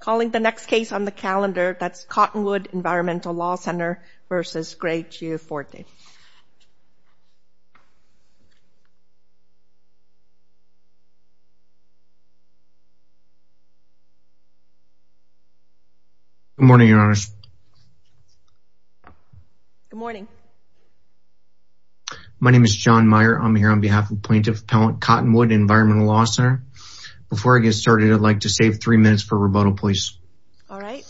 Calling the next case on the calendar, that's Cottonwood Environmental Law Ctr. v. Greg Gianforte. Good morning, Your Honors. Good morning. My name is John Meyer. I'm here on behalf of Plaintiff Appellant Cottonwood Environmental Law Ctr. Before I get started, I'd like to save three minutes for rebuttal, please. All right.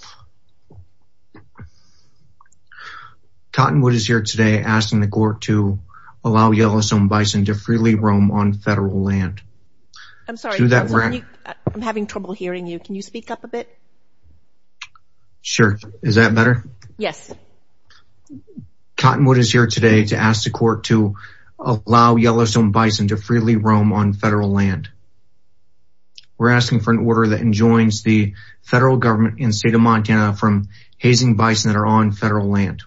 Cottonwood is here today asking the court to allow Yellowstone Bison to freely roam on federal land. I'm sorry. I'm having trouble hearing you. Can you speak up a bit? Sure. Is that better? Yes. Cottonwood is here today to ask the court to allow Yellowstone Bison to freely roam on federal land. We're asking for an order that enjoins the federal government and state of Montana from hazing bison that are on federal land.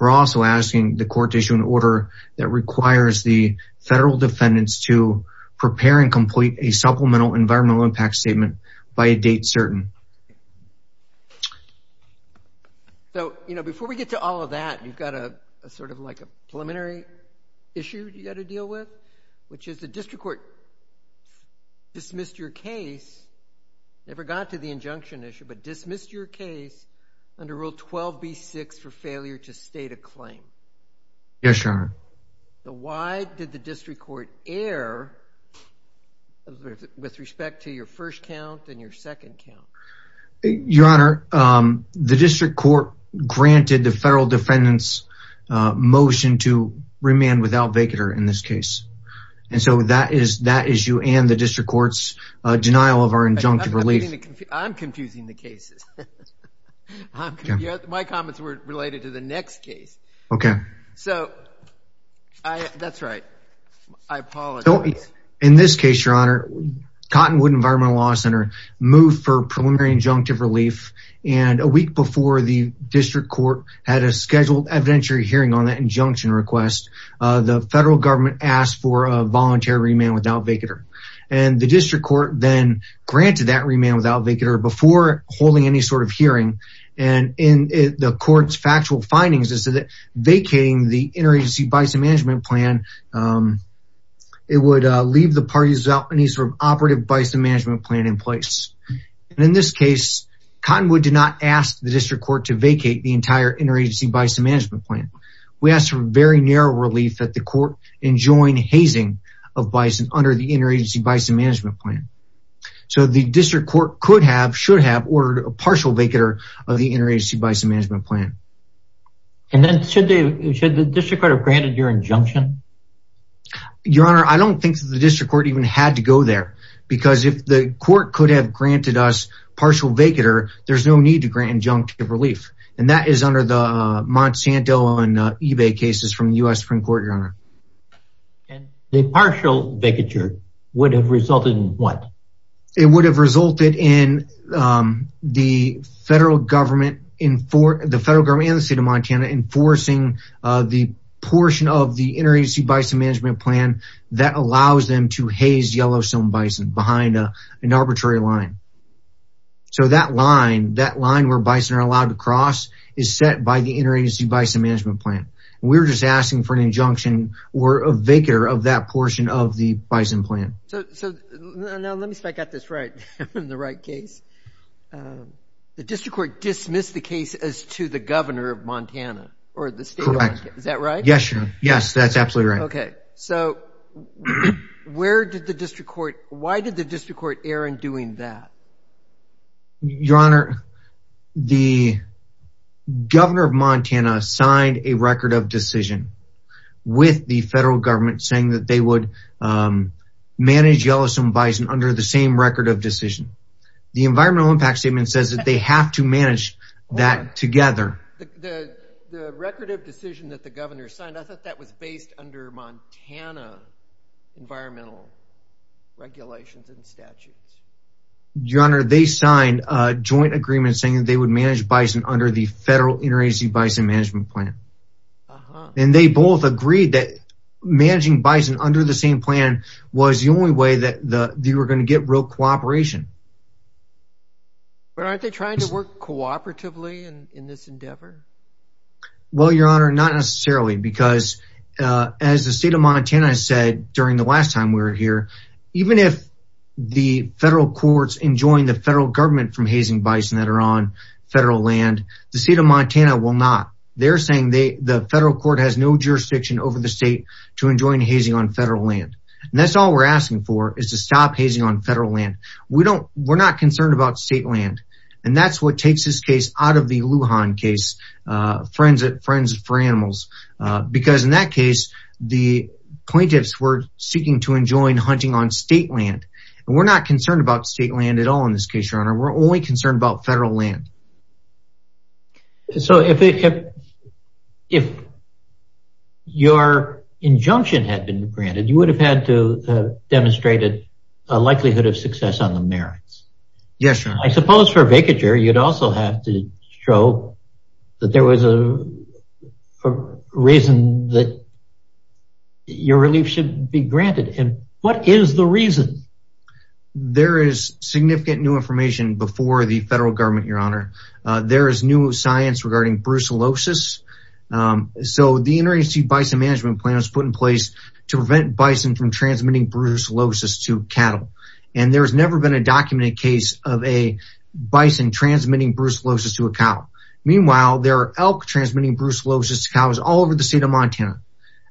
We're also asking the court to issue an order that requires the federal defendants to prepare and complete a supplemental environmental impact statement by a date certain. So, you know, before we get to all of that, you've got a sort of like a preliminary issue you've got to deal with, which is the district court dismissed your case, never got to the injunction issue, but dismissed your case under Rule 12b-6 for failure to state a claim. Yes, Your Honor. So why did the district court err with respect to your first count and your second count? Your Honor, the district court granted the federal defendants motion to remand without vacater in this case. And so that is that issue and the district court's denial of our injunctive relief. I'm confusing the cases. My comments were related to the next case. Okay. So that's right. I apologize. In this case, Your Honor, Cottonwood Environmental Law Center moved for preliminary injunctive relief. And a week before the district court had a scheduled evidentiary hearing on that injunction request, the federal government asked for a voluntary remand without vacater. And the district court then granted that remand without vacater before holding any sort of hearing. And the court's factual findings is that vacating the interagency bison management plan, it would leave the parties without any sort of operative bison management plan in place. And in this case, Cottonwood did not ask the district court to vacate the entire interagency bison management plan. We asked for very narrow relief that the court enjoin hazing of bison under the interagency bison management plan. So the district court could have, should have, ordered a partial vacater of the interagency bison management plan. And then should the district court have granted your injunction? Your Honor, I don't think the district court even had to go there. Because if the court could have granted us partial vacater, there's no need to grant injunctive relief. And that is under the Monsanto and eBay cases from the U.S. Supreme Court, Your Honor. And the partial vacater would have resulted in what? It would have resulted in the federal government and the state of Montana enforcing the portion of the interagency bison management plan that allows them to haze yellowstone bison behind an arbitrary line. So that line, that line where bison are allowed to cross is set by the interagency bison management plan. We're just asking for an injunction or a vacater of that portion of the bison plan. So now let me see if I got this right in the right case. The district court dismissed the case as to the governor of Montana or the state of Montana. Is that right? Yes, Your Honor. Yes, that's absolutely right. Okay. So where did the district court, why did the district court err in doing that? Your Honor, the governor of Montana signed a record of decision with the federal government saying that they would manage yellowstone bison under the same record of decision. The environmental impact statement says that they have to manage that together. The record of decision that the governor signed, I thought that was based under Montana environmental regulations and statutes. Your Honor, they signed a joint agreement saying that they would manage bison under the federal interagency bison management plan. And they both agreed that managing bison under the same plan was the only way that they were going to get real cooperation. But aren't they trying to work cooperatively in this endeavor? Well, Your Honor, not necessarily because as the state of Montana said during the last time we were here, even if the federal courts enjoined the federal government from hazing bison that are on federal land, the state of Montana will not. They're saying the federal court has no jurisdiction over the state to enjoin hazing on federal land. And that's all we're asking for is to stop hazing on federal land. We're not concerned about state land. And that's what takes this case out of the Lujan case, friends for animals. Because in that case, the plaintiffs were seeking to enjoin hunting on state land. And we're not concerned about state land at all in this case, Your Honor. We're only concerned about federal land. So if your injunction had been granted, you would have had to demonstrate a likelihood of success on the merits. Yes, Your Honor. I suppose for a vacatur, you'd also have to show that there was a reason that your relief should be granted. And what is the reason? There is significant new information before the federal government, Your Honor. There is new science regarding brucellosis. So the Interagency Bison Management Plan was put in place to prevent bison from transmitting brucellosis to cattle. And there has never been a documented case of a bison transmitting brucellosis to a cow. Meanwhile, there are elk transmitting brucellosis to cows all over the state of Montana.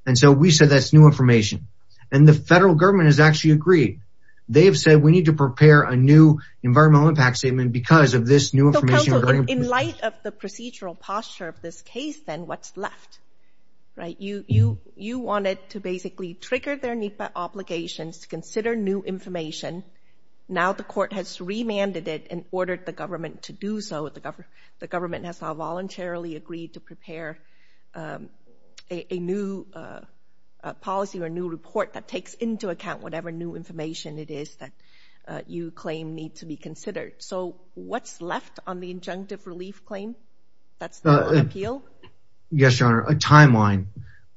And so we said that's new information. And the federal government has actually agreed. They have said we need to prepare a new environmental impact statement because of this new information. So, counsel, in light of the procedural posture of this case, then what's left? You wanted to basically trigger their NEPA obligations to consider new information. Now the court has remanded it and ordered the government to do so. The government has now voluntarily agreed to prepare a new policy or a new report that takes into account whatever new information it is that you claim needs to be considered. So what's left on the injunctive relief claim that's not on appeal? Yes, Your Honor, a timeline.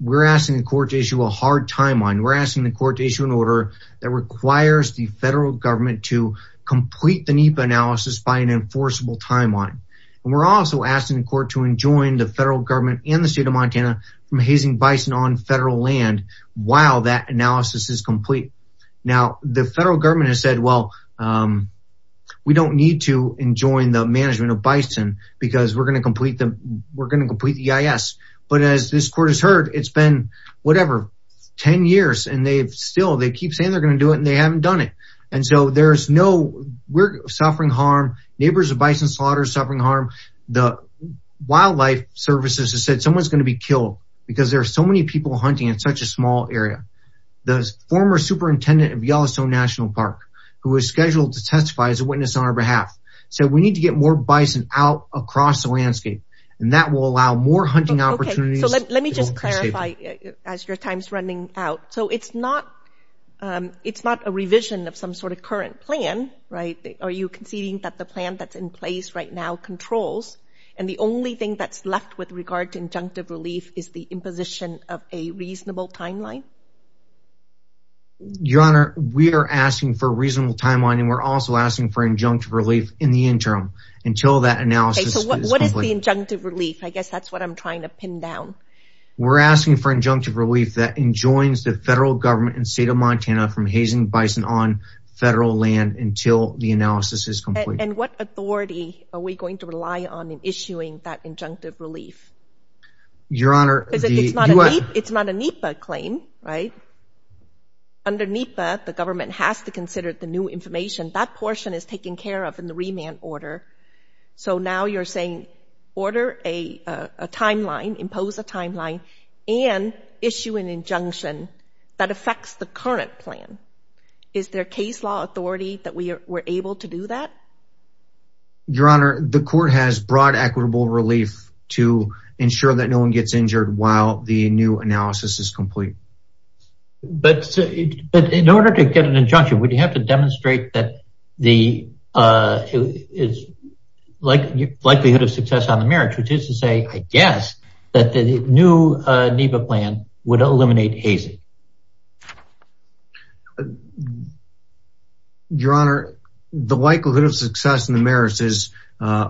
We're asking the court to issue a hard timeline. We're asking the court to issue an order that requires the federal government to complete the NEPA analysis by an enforceable timeline. And we're also asking the court to enjoin the federal government and the state of Montana from hazing bison on federal land while that analysis is complete. Now, the federal government has said, well, we don't need to enjoin the management of bison because we're going to complete the EIS. But as this court has heard, it's been whatever, 10 years and they've still they keep saying they're going to do it and they haven't done it. And so there's no, we're suffering harm. Neighbors of bison slaughters are suffering harm. The wildlife services have said someone's going to be killed because there are so many people hunting in such a small area. The former superintendent of Yellowstone National Park, who is scheduled to testify as a witness on our behalf, said we need to get more bison out across the landscape and that will allow more hunting opportunities. Let me just clarify as your time's running out. So it's not it's not a revision of some sort of current plan, right? Are you conceding that the plan that's in place right now controls? And the only thing that's left with regard to injunctive relief is the imposition of a reasonable timeline. Your Honor, we are asking for a reasonable timeline and we're also asking for injunctive relief in the interim until that analysis. What is the injunctive relief? I guess that's what I'm trying to pin down. We're asking for injunctive relief that enjoins the federal government and state of Montana from hazing bison on federal land until the analysis is complete. And what authority are we going to rely on in issuing that injunctive relief? Your Honor. It's not a NEPA claim, right? Under NEPA, the government has to consider the new information. That portion is taken care of in the remand order. So now you're saying order a timeline, impose a timeline, and issue an injunction that affects the current plan. Is there case law authority that we were able to do that? Your Honor, the court has broad equitable relief to ensure that no one gets injured while the new analysis is complete. But in order to get an injunction, would you have to demonstrate that the likelihood of success on the merits, which is to say, I guess, that the new NEPA plan would eliminate hazing? Your Honor, the likelihood of success in the merits is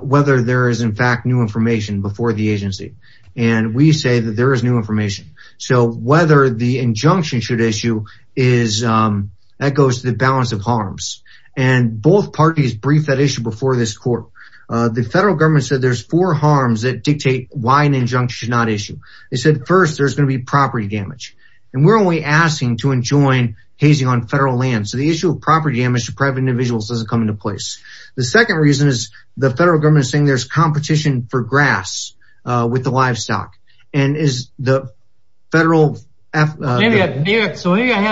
whether there is, in fact, new information before the agency. And we say that there is new information. So whether the injunction should issue, that goes to the balance of harms. And both parties briefed that issue before this court. The federal government said there's four harms that dictate why an injunction should not issue. They said, first, there's going to be property damage. And we're only asking to enjoin hazing on federal land. So the issue of property damage to private individuals doesn't come into place. The second reason is the federal government is saying there's competition for grass with the livestock. So maybe I have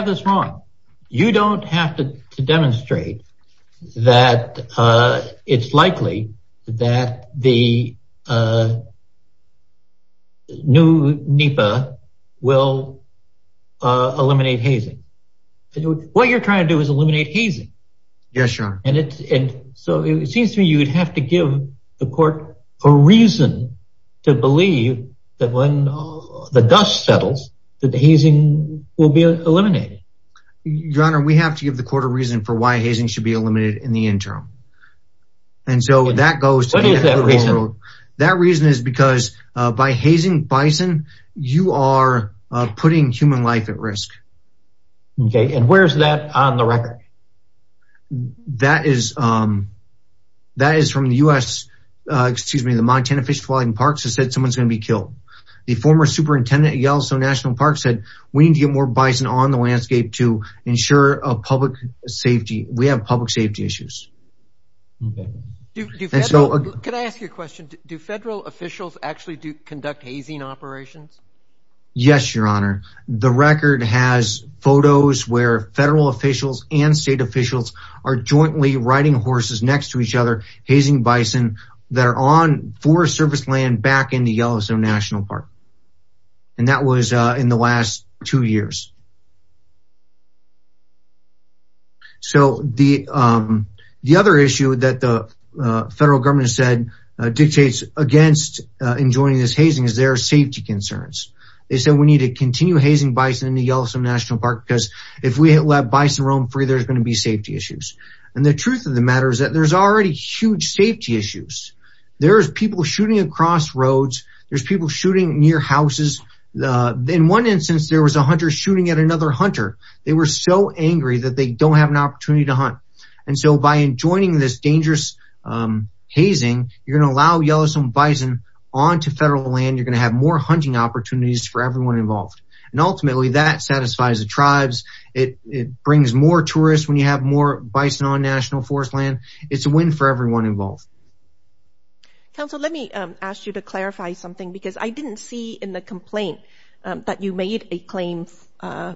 this wrong. You don't have to demonstrate that it's likely that the new NEPA will eliminate hazing. What you're trying to do is eliminate hazing. Yes, Your Honor. And so it seems to me you would have to give the court a reason to believe that when the dust settles, that the hazing will be eliminated. Your Honor, we have to give the court a reason for why hazing should be eliminated in the interim. And so that goes to the... What is that reason? That reason is because by hazing bison, you are putting human life at risk. Okay. And where's that on the record? That is from the U.S. Excuse me. The Montana Fish and Wildlife Park has said someone's going to be killed. The former superintendent at Yellowstone National Park said we need to get more bison on the landscape to ensure public safety. We have public safety issues. Okay. Can I ask you a question? Do federal officials actually conduct hazing operations? Yes, Your Honor. The record has photos where federal officials and state officials are jointly riding horses next to each other, hazing bison that are on forest surface land back in the Yellowstone National Park. And that was in the last two years. So the other issue that the federal government has said dictates against enjoining this hazing is there are safety concerns. They said we need to continue hazing bison in the Yellowstone National Park because if we let bison roam free, there's going to be safety issues. And the truth of the matter is that there's already huge safety issues. There's people shooting across roads. There's people shooting near houses. In one instance, there was a hunter shooting at another hunter. They were so angry that they don't have an opportunity to hunt. And so by enjoining this dangerous hazing, you're going to allow Yellowstone bison onto federal land. You're going to have more hunting opportunities for everyone involved. And ultimately, that satisfies the tribes. It brings more tourists when you have more bison on national forest land. It's a win for everyone involved. Council, let me ask you to clarify something because I didn't see in the complaint that you made a claim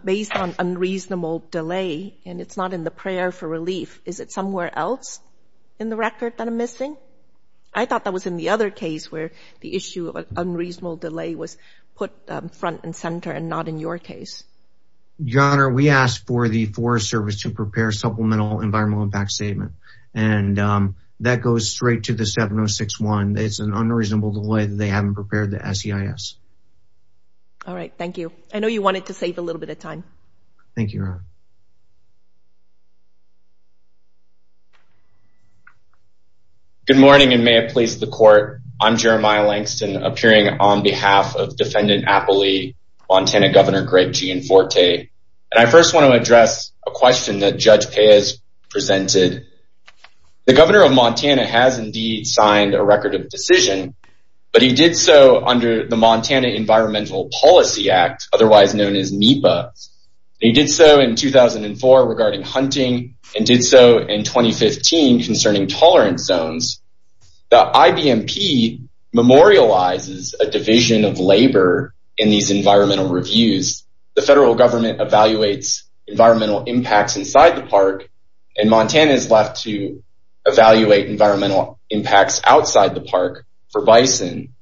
based on unreasonable delay. And it's not in the prayer for relief. Is it somewhere else in the record that I'm missing? I thought that was in the other case where the issue of unreasonable delay was put front and center and not in your case. Your Honor, we asked for the Forest Service to prepare supplemental environmental impact statement. And that goes straight to the 706-1. It's an unreasonable delay. They haven't prepared the SEIS. All right. Thank you. I know you wanted to save a little bit of time. Thank you, Your Honor. Good morning, and may it please the court. I'm Jeremiah Langston, appearing on behalf of Defendant Appley, Montana Governor Greg Gianforte. And I first want to address a question that Judge Peyes presented. The governor of Montana has indeed signed a record of decision, but he did so under the Montana Environmental Policy Act, otherwise known as MEPA. He did so in 2004 regarding hunting and did so in 2015 concerning tolerance zones. The IBMP memorializes a division of labor in these environmental reviews. The federal government evaluates environmental impacts inside the park, and Montana is left to evaluate environmental impacts outside the park for bison.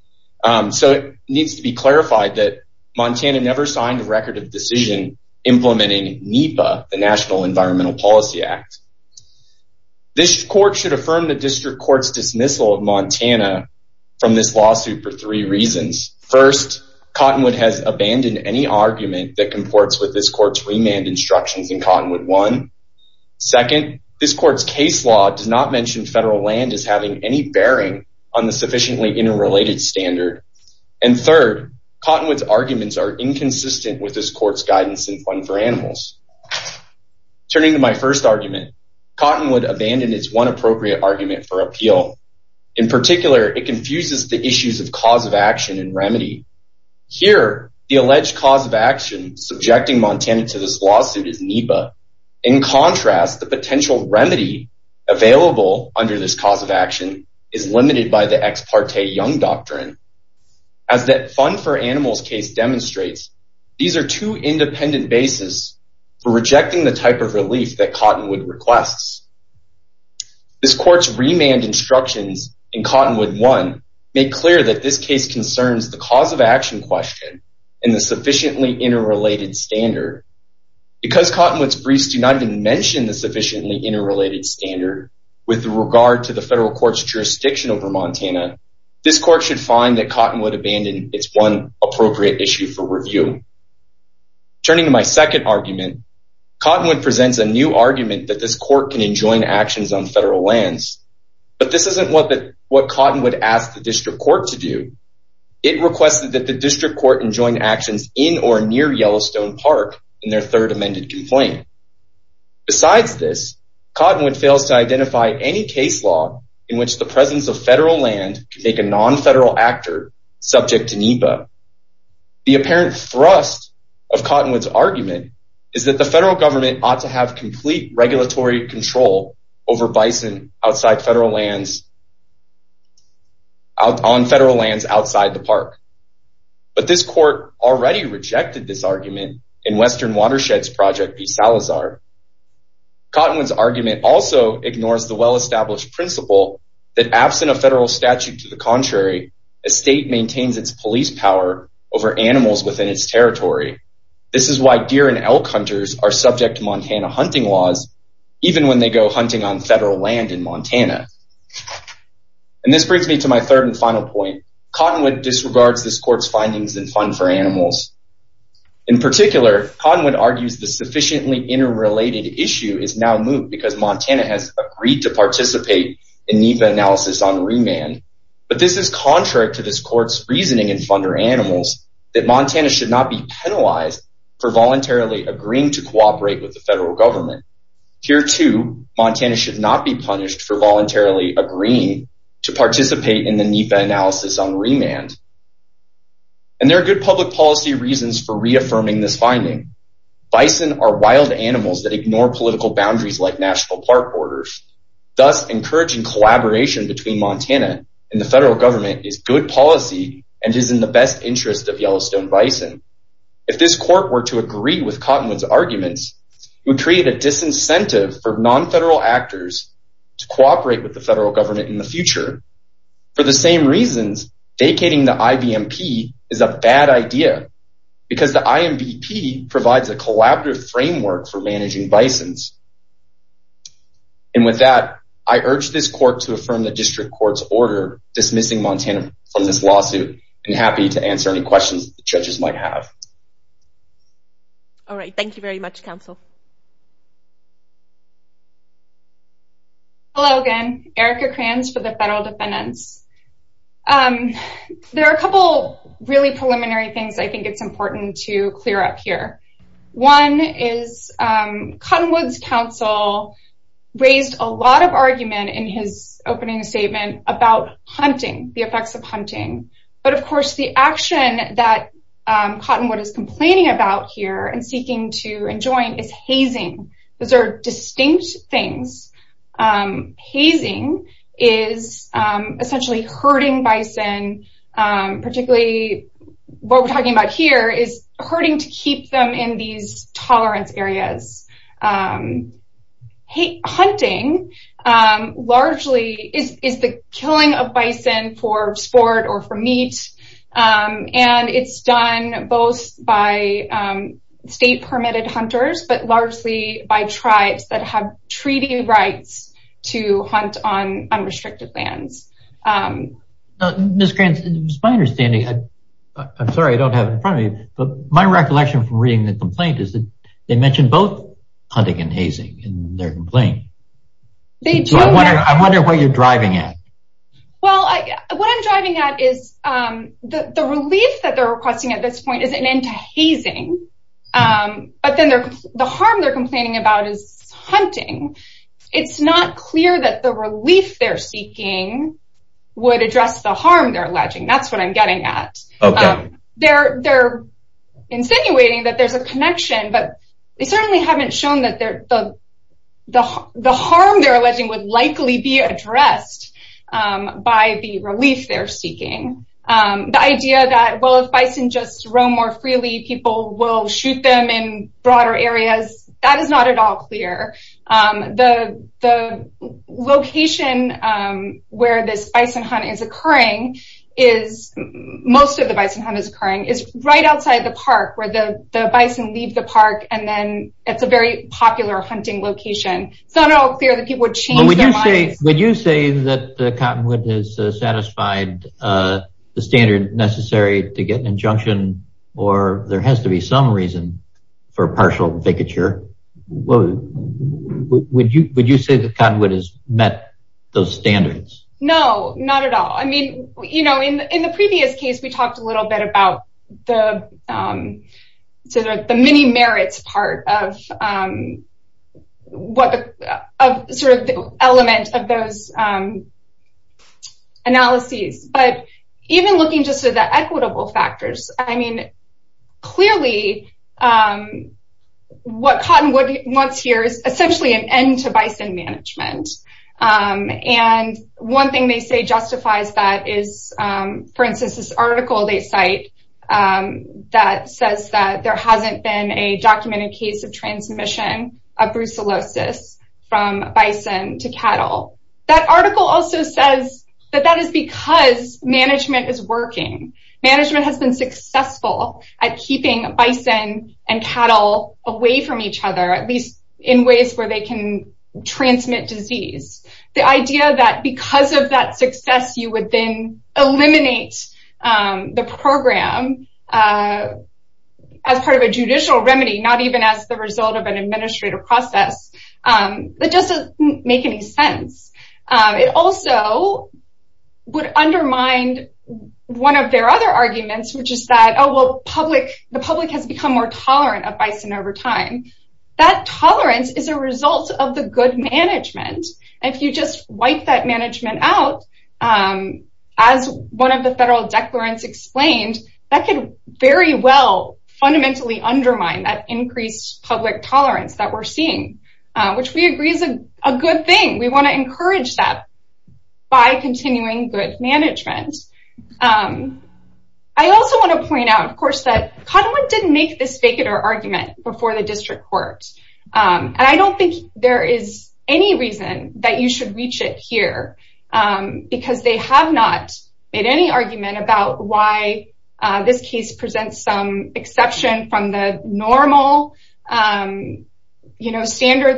So it needs to be clarified that Montana never signed a record of decision implementing MEPA, the National Environmental Policy Act. This court should affirm the district court's dismissal of Montana from this lawsuit for three reasons. First, Cottonwood has abandoned any argument that comports with this court's remand instructions in Cottonwood 1. Second, this court's case law does not mention federal land as having any bearing on the sufficiently interrelated standard. And third, Cottonwood's arguments are inconsistent with this court's guidance in Fund for Animals. Turning to my first argument, Cottonwood abandoned its one appropriate argument for appeal. In particular, it confuses the issues of cause of action and remedy. Here, the alleged cause of action subjecting Montana to this lawsuit is MEPA. In contrast, the potential remedy available under this cause of action is limited by the Ex Parte Young Doctrine. As that Fund for Animals case demonstrates, these are two independent bases for rejecting the type of relief that Cottonwood requests. This court's remand instructions in Cottonwood 1 make clear that this case concerns the cause of action question and the sufficiently interrelated standard. Because Cottonwood's briefs do not even mention the sufficiently interrelated standard with regard to the federal court's jurisdiction over Montana, this court should find that Cottonwood abandoned its one appropriate issue for review. Turning to my second argument, Cottonwood presents a new argument that this court can enjoin actions on federal lands. But this isn't what Cottonwood asked the district court to do. It requested that the district court enjoin actions in or near Yellowstone Park in their third amended complaint. Besides this, Cottonwood fails to identify any case law in which the presence of federal land can make a non-federal actor subject to MEPA. The apparent thrust of Cottonwood's argument is that the federal government ought to have complete regulatory control over bison on federal lands outside the park. But this court already rejected this argument in Western Watersheds Project v. Salazar. Cottonwood's argument also ignores the well-established principle that absent a federal statute to the contrary, a state maintains its police power over animals within its territory. This is why deer and elk hunters are subject to Montana hunting laws, even when they go hunting on federal land in Montana. And this brings me to my third and final point. Cottonwood disregards this court's findings in Fund for Animals. In particular, Cottonwood argues the sufficiently interrelated issue is now moved because Montana has agreed to participate in NEPA analysis on remand. But this is contrary to this court's reasoning in Fund for Animals that Montana should not be penalized for voluntarily agreeing to cooperate with the federal government. Here, too, Montana should not be punished for voluntarily agreeing to participate in the NEPA analysis on remand. And there are good public policy reasons for reaffirming this finding. Bison are wild animals that ignore political boundaries like national park orders. Thus, encouraging collaboration between Montana and the federal government is good policy and is in the best interest of Yellowstone bison. If this court were to agree with Cottonwood's arguments, it would create a disincentive for non-federal actors to cooperate with the federal government in the future. For the same reasons, vacating the IBMP is a bad idea because the IMBP provides a collaborative framework for managing bisons. And with that, I urge this court to affirm the district court's order dismissing Montana from this lawsuit and happy to answer any questions the judges might have. All right. Thank you very much, counsel. Hello again. Erica Kranz for the federal defendants. There are a couple really preliminary things I think it's important to clear up here. One is Cottonwood's counsel raised a lot of argument in his opening statement about hunting, the effects of hunting. But of course, the action that Cottonwood is complaining about here and seeking to enjoin is hazing. Those are distinct things. Hazing is essentially herding bison. Particularly what we're talking about here is herding to keep them in these tolerance areas. Hunting largely is the killing of bison for sport or for meat. And it's done both by state-permitted hunters but largely by tribes that have treaty rights to hunt on unrestricted lands. Ms. Kranz, it's my understanding. I'm sorry, I don't have it in front of me. But my recollection from reading the complaint is that they mentioned both hunting and hazing in their complaint. I wonder what you're driving at. Well, what I'm driving at is the relief that they're requesting at this point is an end to hazing. But then the harm they're complaining about is hunting. It's not clear that the relief they're seeking would address the harm they're alleging. That's what I'm getting at. They're insinuating that there's a connection, but they certainly haven't shown that the harm they're alleging would likely be addressed by the relief they're seeking. The idea that, well, if bison just roam more freely, people will shoot them in broader areas, that is not at all clear. The location where this bison hunt is occurring, most of the bison hunt is occurring, is right outside the park where the bison leave the park. And then it's a very popular hunting location. It's not at all clear that people would change their minds. Would you say that Cottonwood has satisfied the standard necessary to get an injunction, or there has to be some reason for partial vicature? Would you say that Cottonwood has met those standards? No, not at all. In the previous case, we talked a little bit about the many merits part of the element of those analyses. But even looking just at the equitable factors, I mean, clearly what Cottonwood wants here is essentially an end to bison management. And one thing they say justifies that is, for instance, this article they cite that says that there hasn't been a documented case of transmission of brucellosis from bison to cattle. That article also says that that is because management is working. Management has been successful at keeping bison and cattle away from each other, at least in ways where they can transmit disease. The idea that because of that success, you would then eliminate the program as part of a judicial remedy, not even as the result of an administrative process, that doesn't make any sense. It also would undermine one of their other arguments, which is that the public has become more tolerant of bison over time. That tolerance is a result of the good management. If you just wipe that management out, as one of the federal declarants explained, that could very well fundamentally undermine that increased public tolerance that we're seeing, which we agree is a good thing. We want to encourage that by continuing good management. I also want to point out, of course, that Cottonwood didn't make this fake it or argument before the district court. And I don't think there is any reason that you should reach it here, because they have not made any argument about why this case presents some exception from the normal standard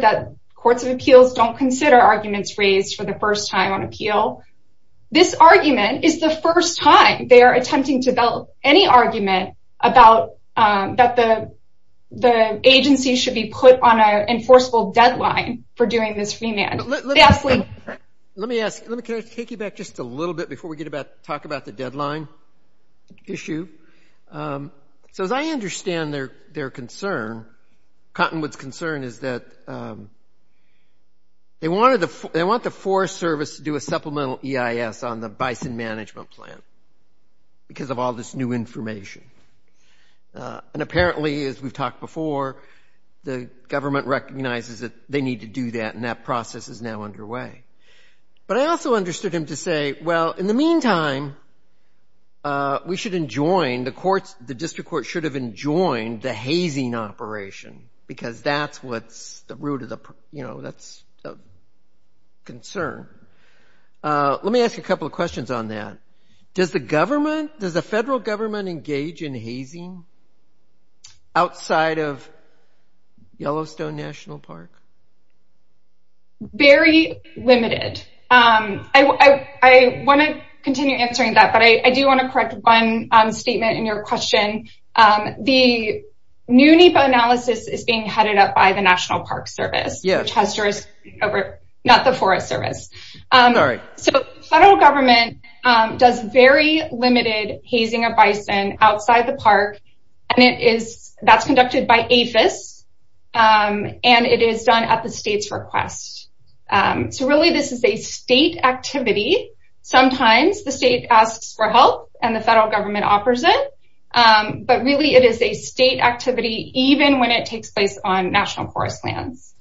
that courts of appeals don't consider arguments raised for the first time on appeal. This argument is the first time they are attempting to develop any argument that the agency should be put on an enforceable deadline for doing this remand. Let me take you back just a little bit before we talk about the deadline issue. So as I understand their concern, Cottonwood's concern is that they want the Forest Service to do a supplemental EIS on the bison management plan because of all this new information. And apparently, as we've talked before, the government recognizes that they need to do that, and that process is now underway. But I also understood him to say, well, in the meantime, we should enjoin the courts, the district court should have enjoined the hazing operation, because that's what's the root of the, you know, that's the concern. Let me ask you a couple of questions on that. Does the federal government engage in hazing outside of Yellowstone National Park? Very limited. I want to continue answering that, but I do want to correct one statement in your question. The new NEPA analysis is being headed up by the National Park Service, which has jurisdiction over not the Forest Service. So federal government does very limited hazing of bison outside the park, and that's conducted by APHIS, and it is done at the state's request. So really, this is a state activity. Sometimes the state asks for help, and the federal government offers it. But really, it is a state activity, even when it takes place on national forest lands.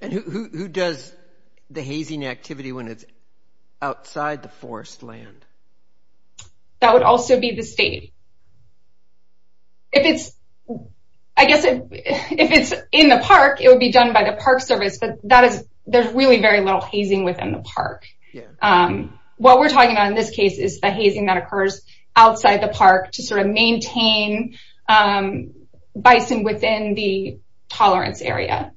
And who does the hazing activity when it's outside the forest land? That would also be the state. If it's, I guess if it's in the park, it would be done by the Park Service, but that is, there's really very little hazing within the park. What we're talking about in this case is the hazing that occurs outside the park to sort of maintain bison within the tolerance area.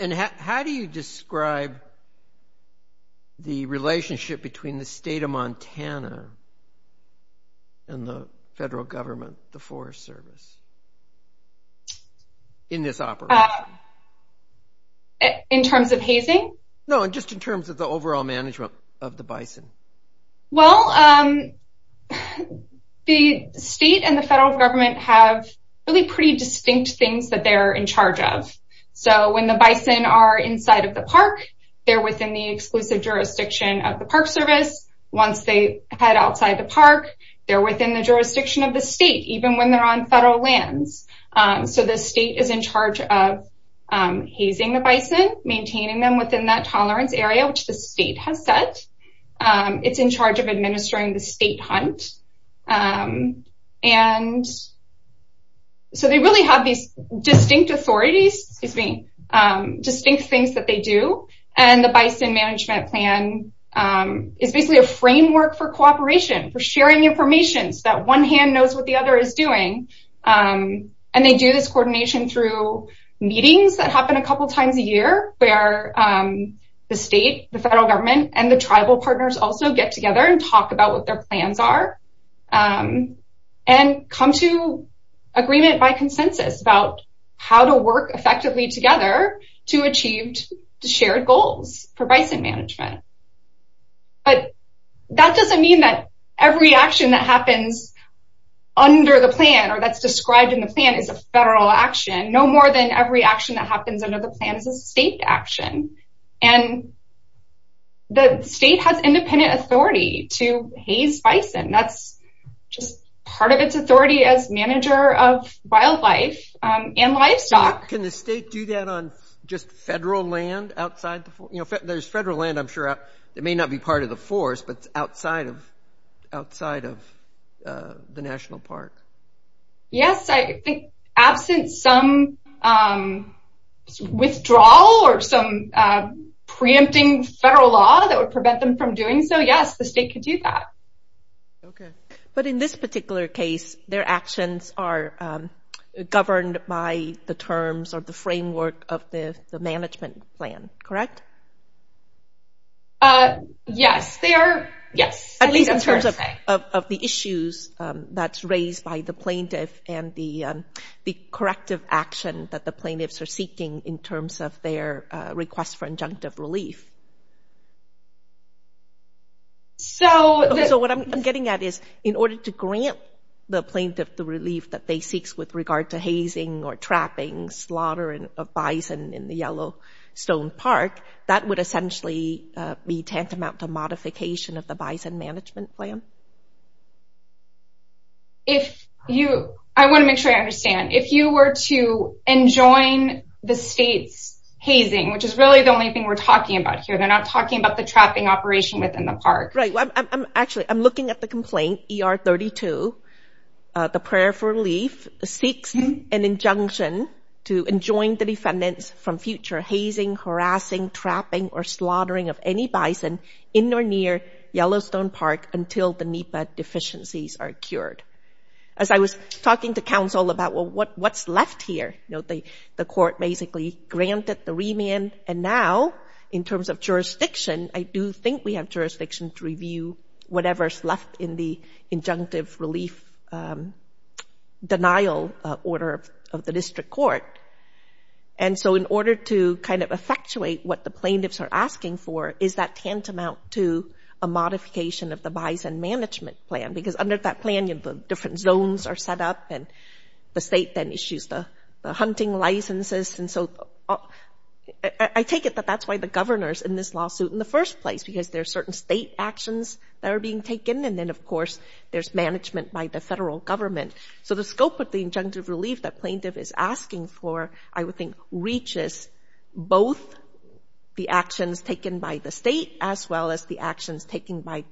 And how do you describe the relationship between the state of Montana and the federal government, the Forest Service, in this operation? In terms of hazing? No, just in terms of the overall management of the bison. Well, the state and the federal government have really pretty distinct things that they're in charge of. So when the bison are inside of the park, they're within the exclusive jurisdiction of the Park Service. Once they head outside the park, they're within the jurisdiction of the state, even when they're on federal lands. So the state is in charge of hazing the bison, maintaining them within that tolerance area, which the state has said. It's in charge of administering the state hunt. And so they really have these distinct authorities, excuse me, distinct things that they do. And the bison management plan is basically a framework for cooperation, for sharing information so that one hand knows what the other is doing. And they do this coordination through meetings that happen a couple times a year where the state, the federal government, and the tribal partners also get together and talk about what their plans are. And come to agreement by consensus about how to work effectively together to achieve the shared goals for bison management. But that doesn't mean that every action that happens under the plan or that's described in the plan is a federal action. No more than every action that happens under the plan is a state action. And the state has independent authority to haze bison. That's just part of its authority as manager of wildlife and livestock. Can the state do that on just federal land outside? You know, there's federal land I'm sure that may not be part of the force, but outside of the national park. Yes, I think absent some withdrawal or some preempting federal law that would prevent them from doing so, yes, the state could do that. But in this particular case, their actions are governed by the terms or the framework of the management plan, correct? Yes, they are, yes. At least in terms of the issues that's raised by the plaintiff and the corrective action that the plaintiffs are seeking in terms of their request for injunctive relief. So what I'm getting at is in order to grant the plaintiff the relief that they seek with regard to hazing or trapping, slaughtering of bison in the Yellowstone Park, that would essentially be tantamount to modification of the bison management plan? I want to make sure I understand. If you were to enjoin the state's hazing, which is really the only thing we're talking about here, they're not talking about the trapping operation within the park. Actually, I'm looking at the complaint, ER 32. The prayer for relief seeks an injunction to enjoin the defendants from future hazing, harassing, trapping, or slaughtering of any bison in or near Yellowstone Park until the NEPA deficiencies are cured. As I was talking to counsel about, well, what's left here? The court basically granted the remand, and now in terms of jurisdiction, I do think we have jurisdiction to review whatever's left in the injunctive relief denial order of the district court. And so in order to kind of effectuate what the plaintiffs are asking for, is that tantamount to a modification of the bison management plan? Because under that plan, the different zones are set up, and the state then issues the hunting licenses. And so I take it that that's why the governor's in this lawsuit in the first place, because there are certain state actions that are being taken. And then, of course, there's management by the federal government. So the scope of the injunctive relief that plaintiff is asking for, I would think, reaches both the actions taken by the state as well as the actions taken by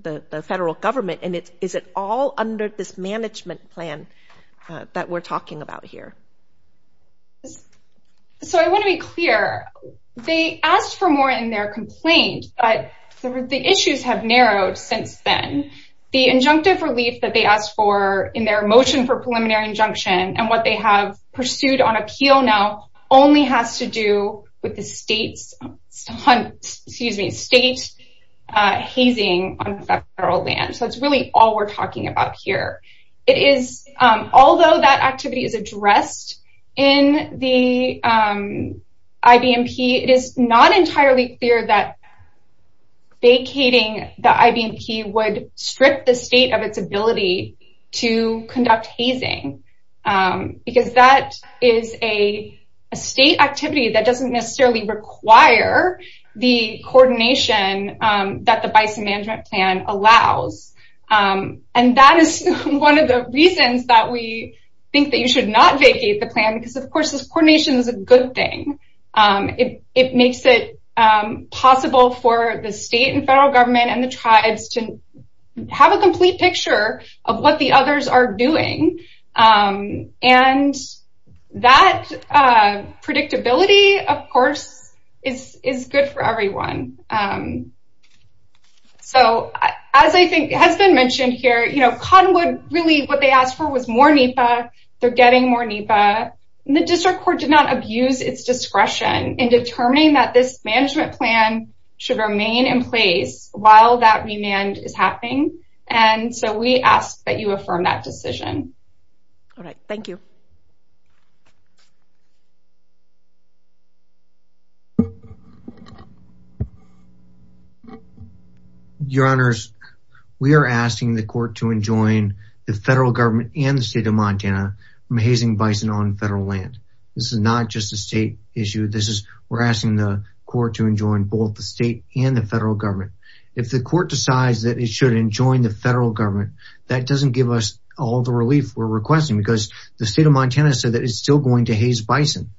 the federal government. And is it all under this management plan that we're talking about here? So I want to be clear. They asked for more in their complaint, but the issues have narrowed since then. The injunctive relief that they asked for in their motion for preliminary injunction and what they have pursued on appeal now only has to do with the state hazing on federal land. So that's really all we're talking about here. Although that activity is addressed in the IBMP, it is not entirely clear that vacating the IBMP would strip the state of its ability to conduct hazing. Because that is a state activity that doesn't necessarily require the coordination that the bison management plan allows. And that is one of the reasons that we think that you should not vacate the plan. Because, of course, this coordination is a good thing. It makes it possible for the state and federal government and the tribes to have a complete picture of what the others are doing. And that predictability, of course, is good for everyone. So, as I think has been mentioned here, Cottonwood, really what they asked for was more NEPA. They're getting more NEPA. And the district court did not abuse its discretion in determining that this management plan should remain in place while that remand is happening. And so we ask that you affirm that decision. All right. Thank you. Your Honors, we are asking the court to enjoin the federal government and the state of Montana from hazing bison on federal land. This is not just a state issue. We're asking the court to enjoin both the state and the federal government. If the court decides that it should enjoin the federal government, that doesn't give us all the relief we're requesting. Because the state of Montana said that it's still going to haze bison.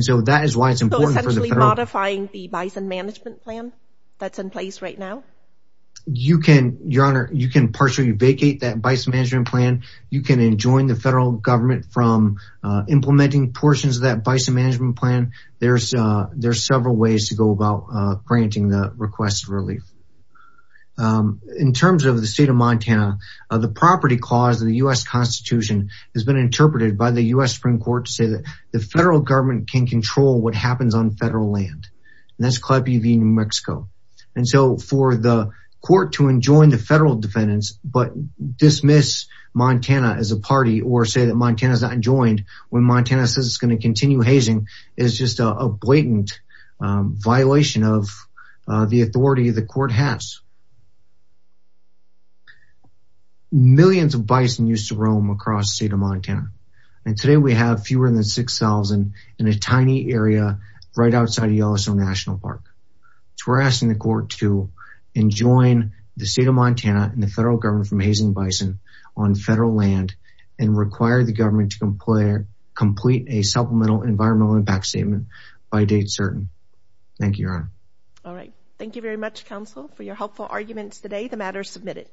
So, essentially modifying the bison management plan that's in place right now? Your Honor, you can partially vacate that bison management plan. You can enjoin the federal government from implementing portions of that bison management plan. There's several ways to go about granting the request for relief. In terms of the state of Montana, the property clause of the U.S. Constitution has been interpreted by the U.S. Supreme Court to say that the federal government can control what happens on federal land. And that's Claude B. v. New Mexico. And so for the court to enjoin the federal defendants but dismiss Montana as a party or say that Montana's not enjoined when Montana says it's going to continue hazing, is just a blatant violation of the authority the court has. Millions of bison used to roam across the state of Montana. And today we have fewer than 6,000 in a tiny area right outside of Yellowstone National Park. We're asking the court to enjoin the state of Montana and the federal government from hazing bison on federal land and require the government to complete a supplemental environmental impact statement by date certain. Thank you, Your Honor. All right. Thank you very much, counsel, for your helpful arguments today. The matter is submitted.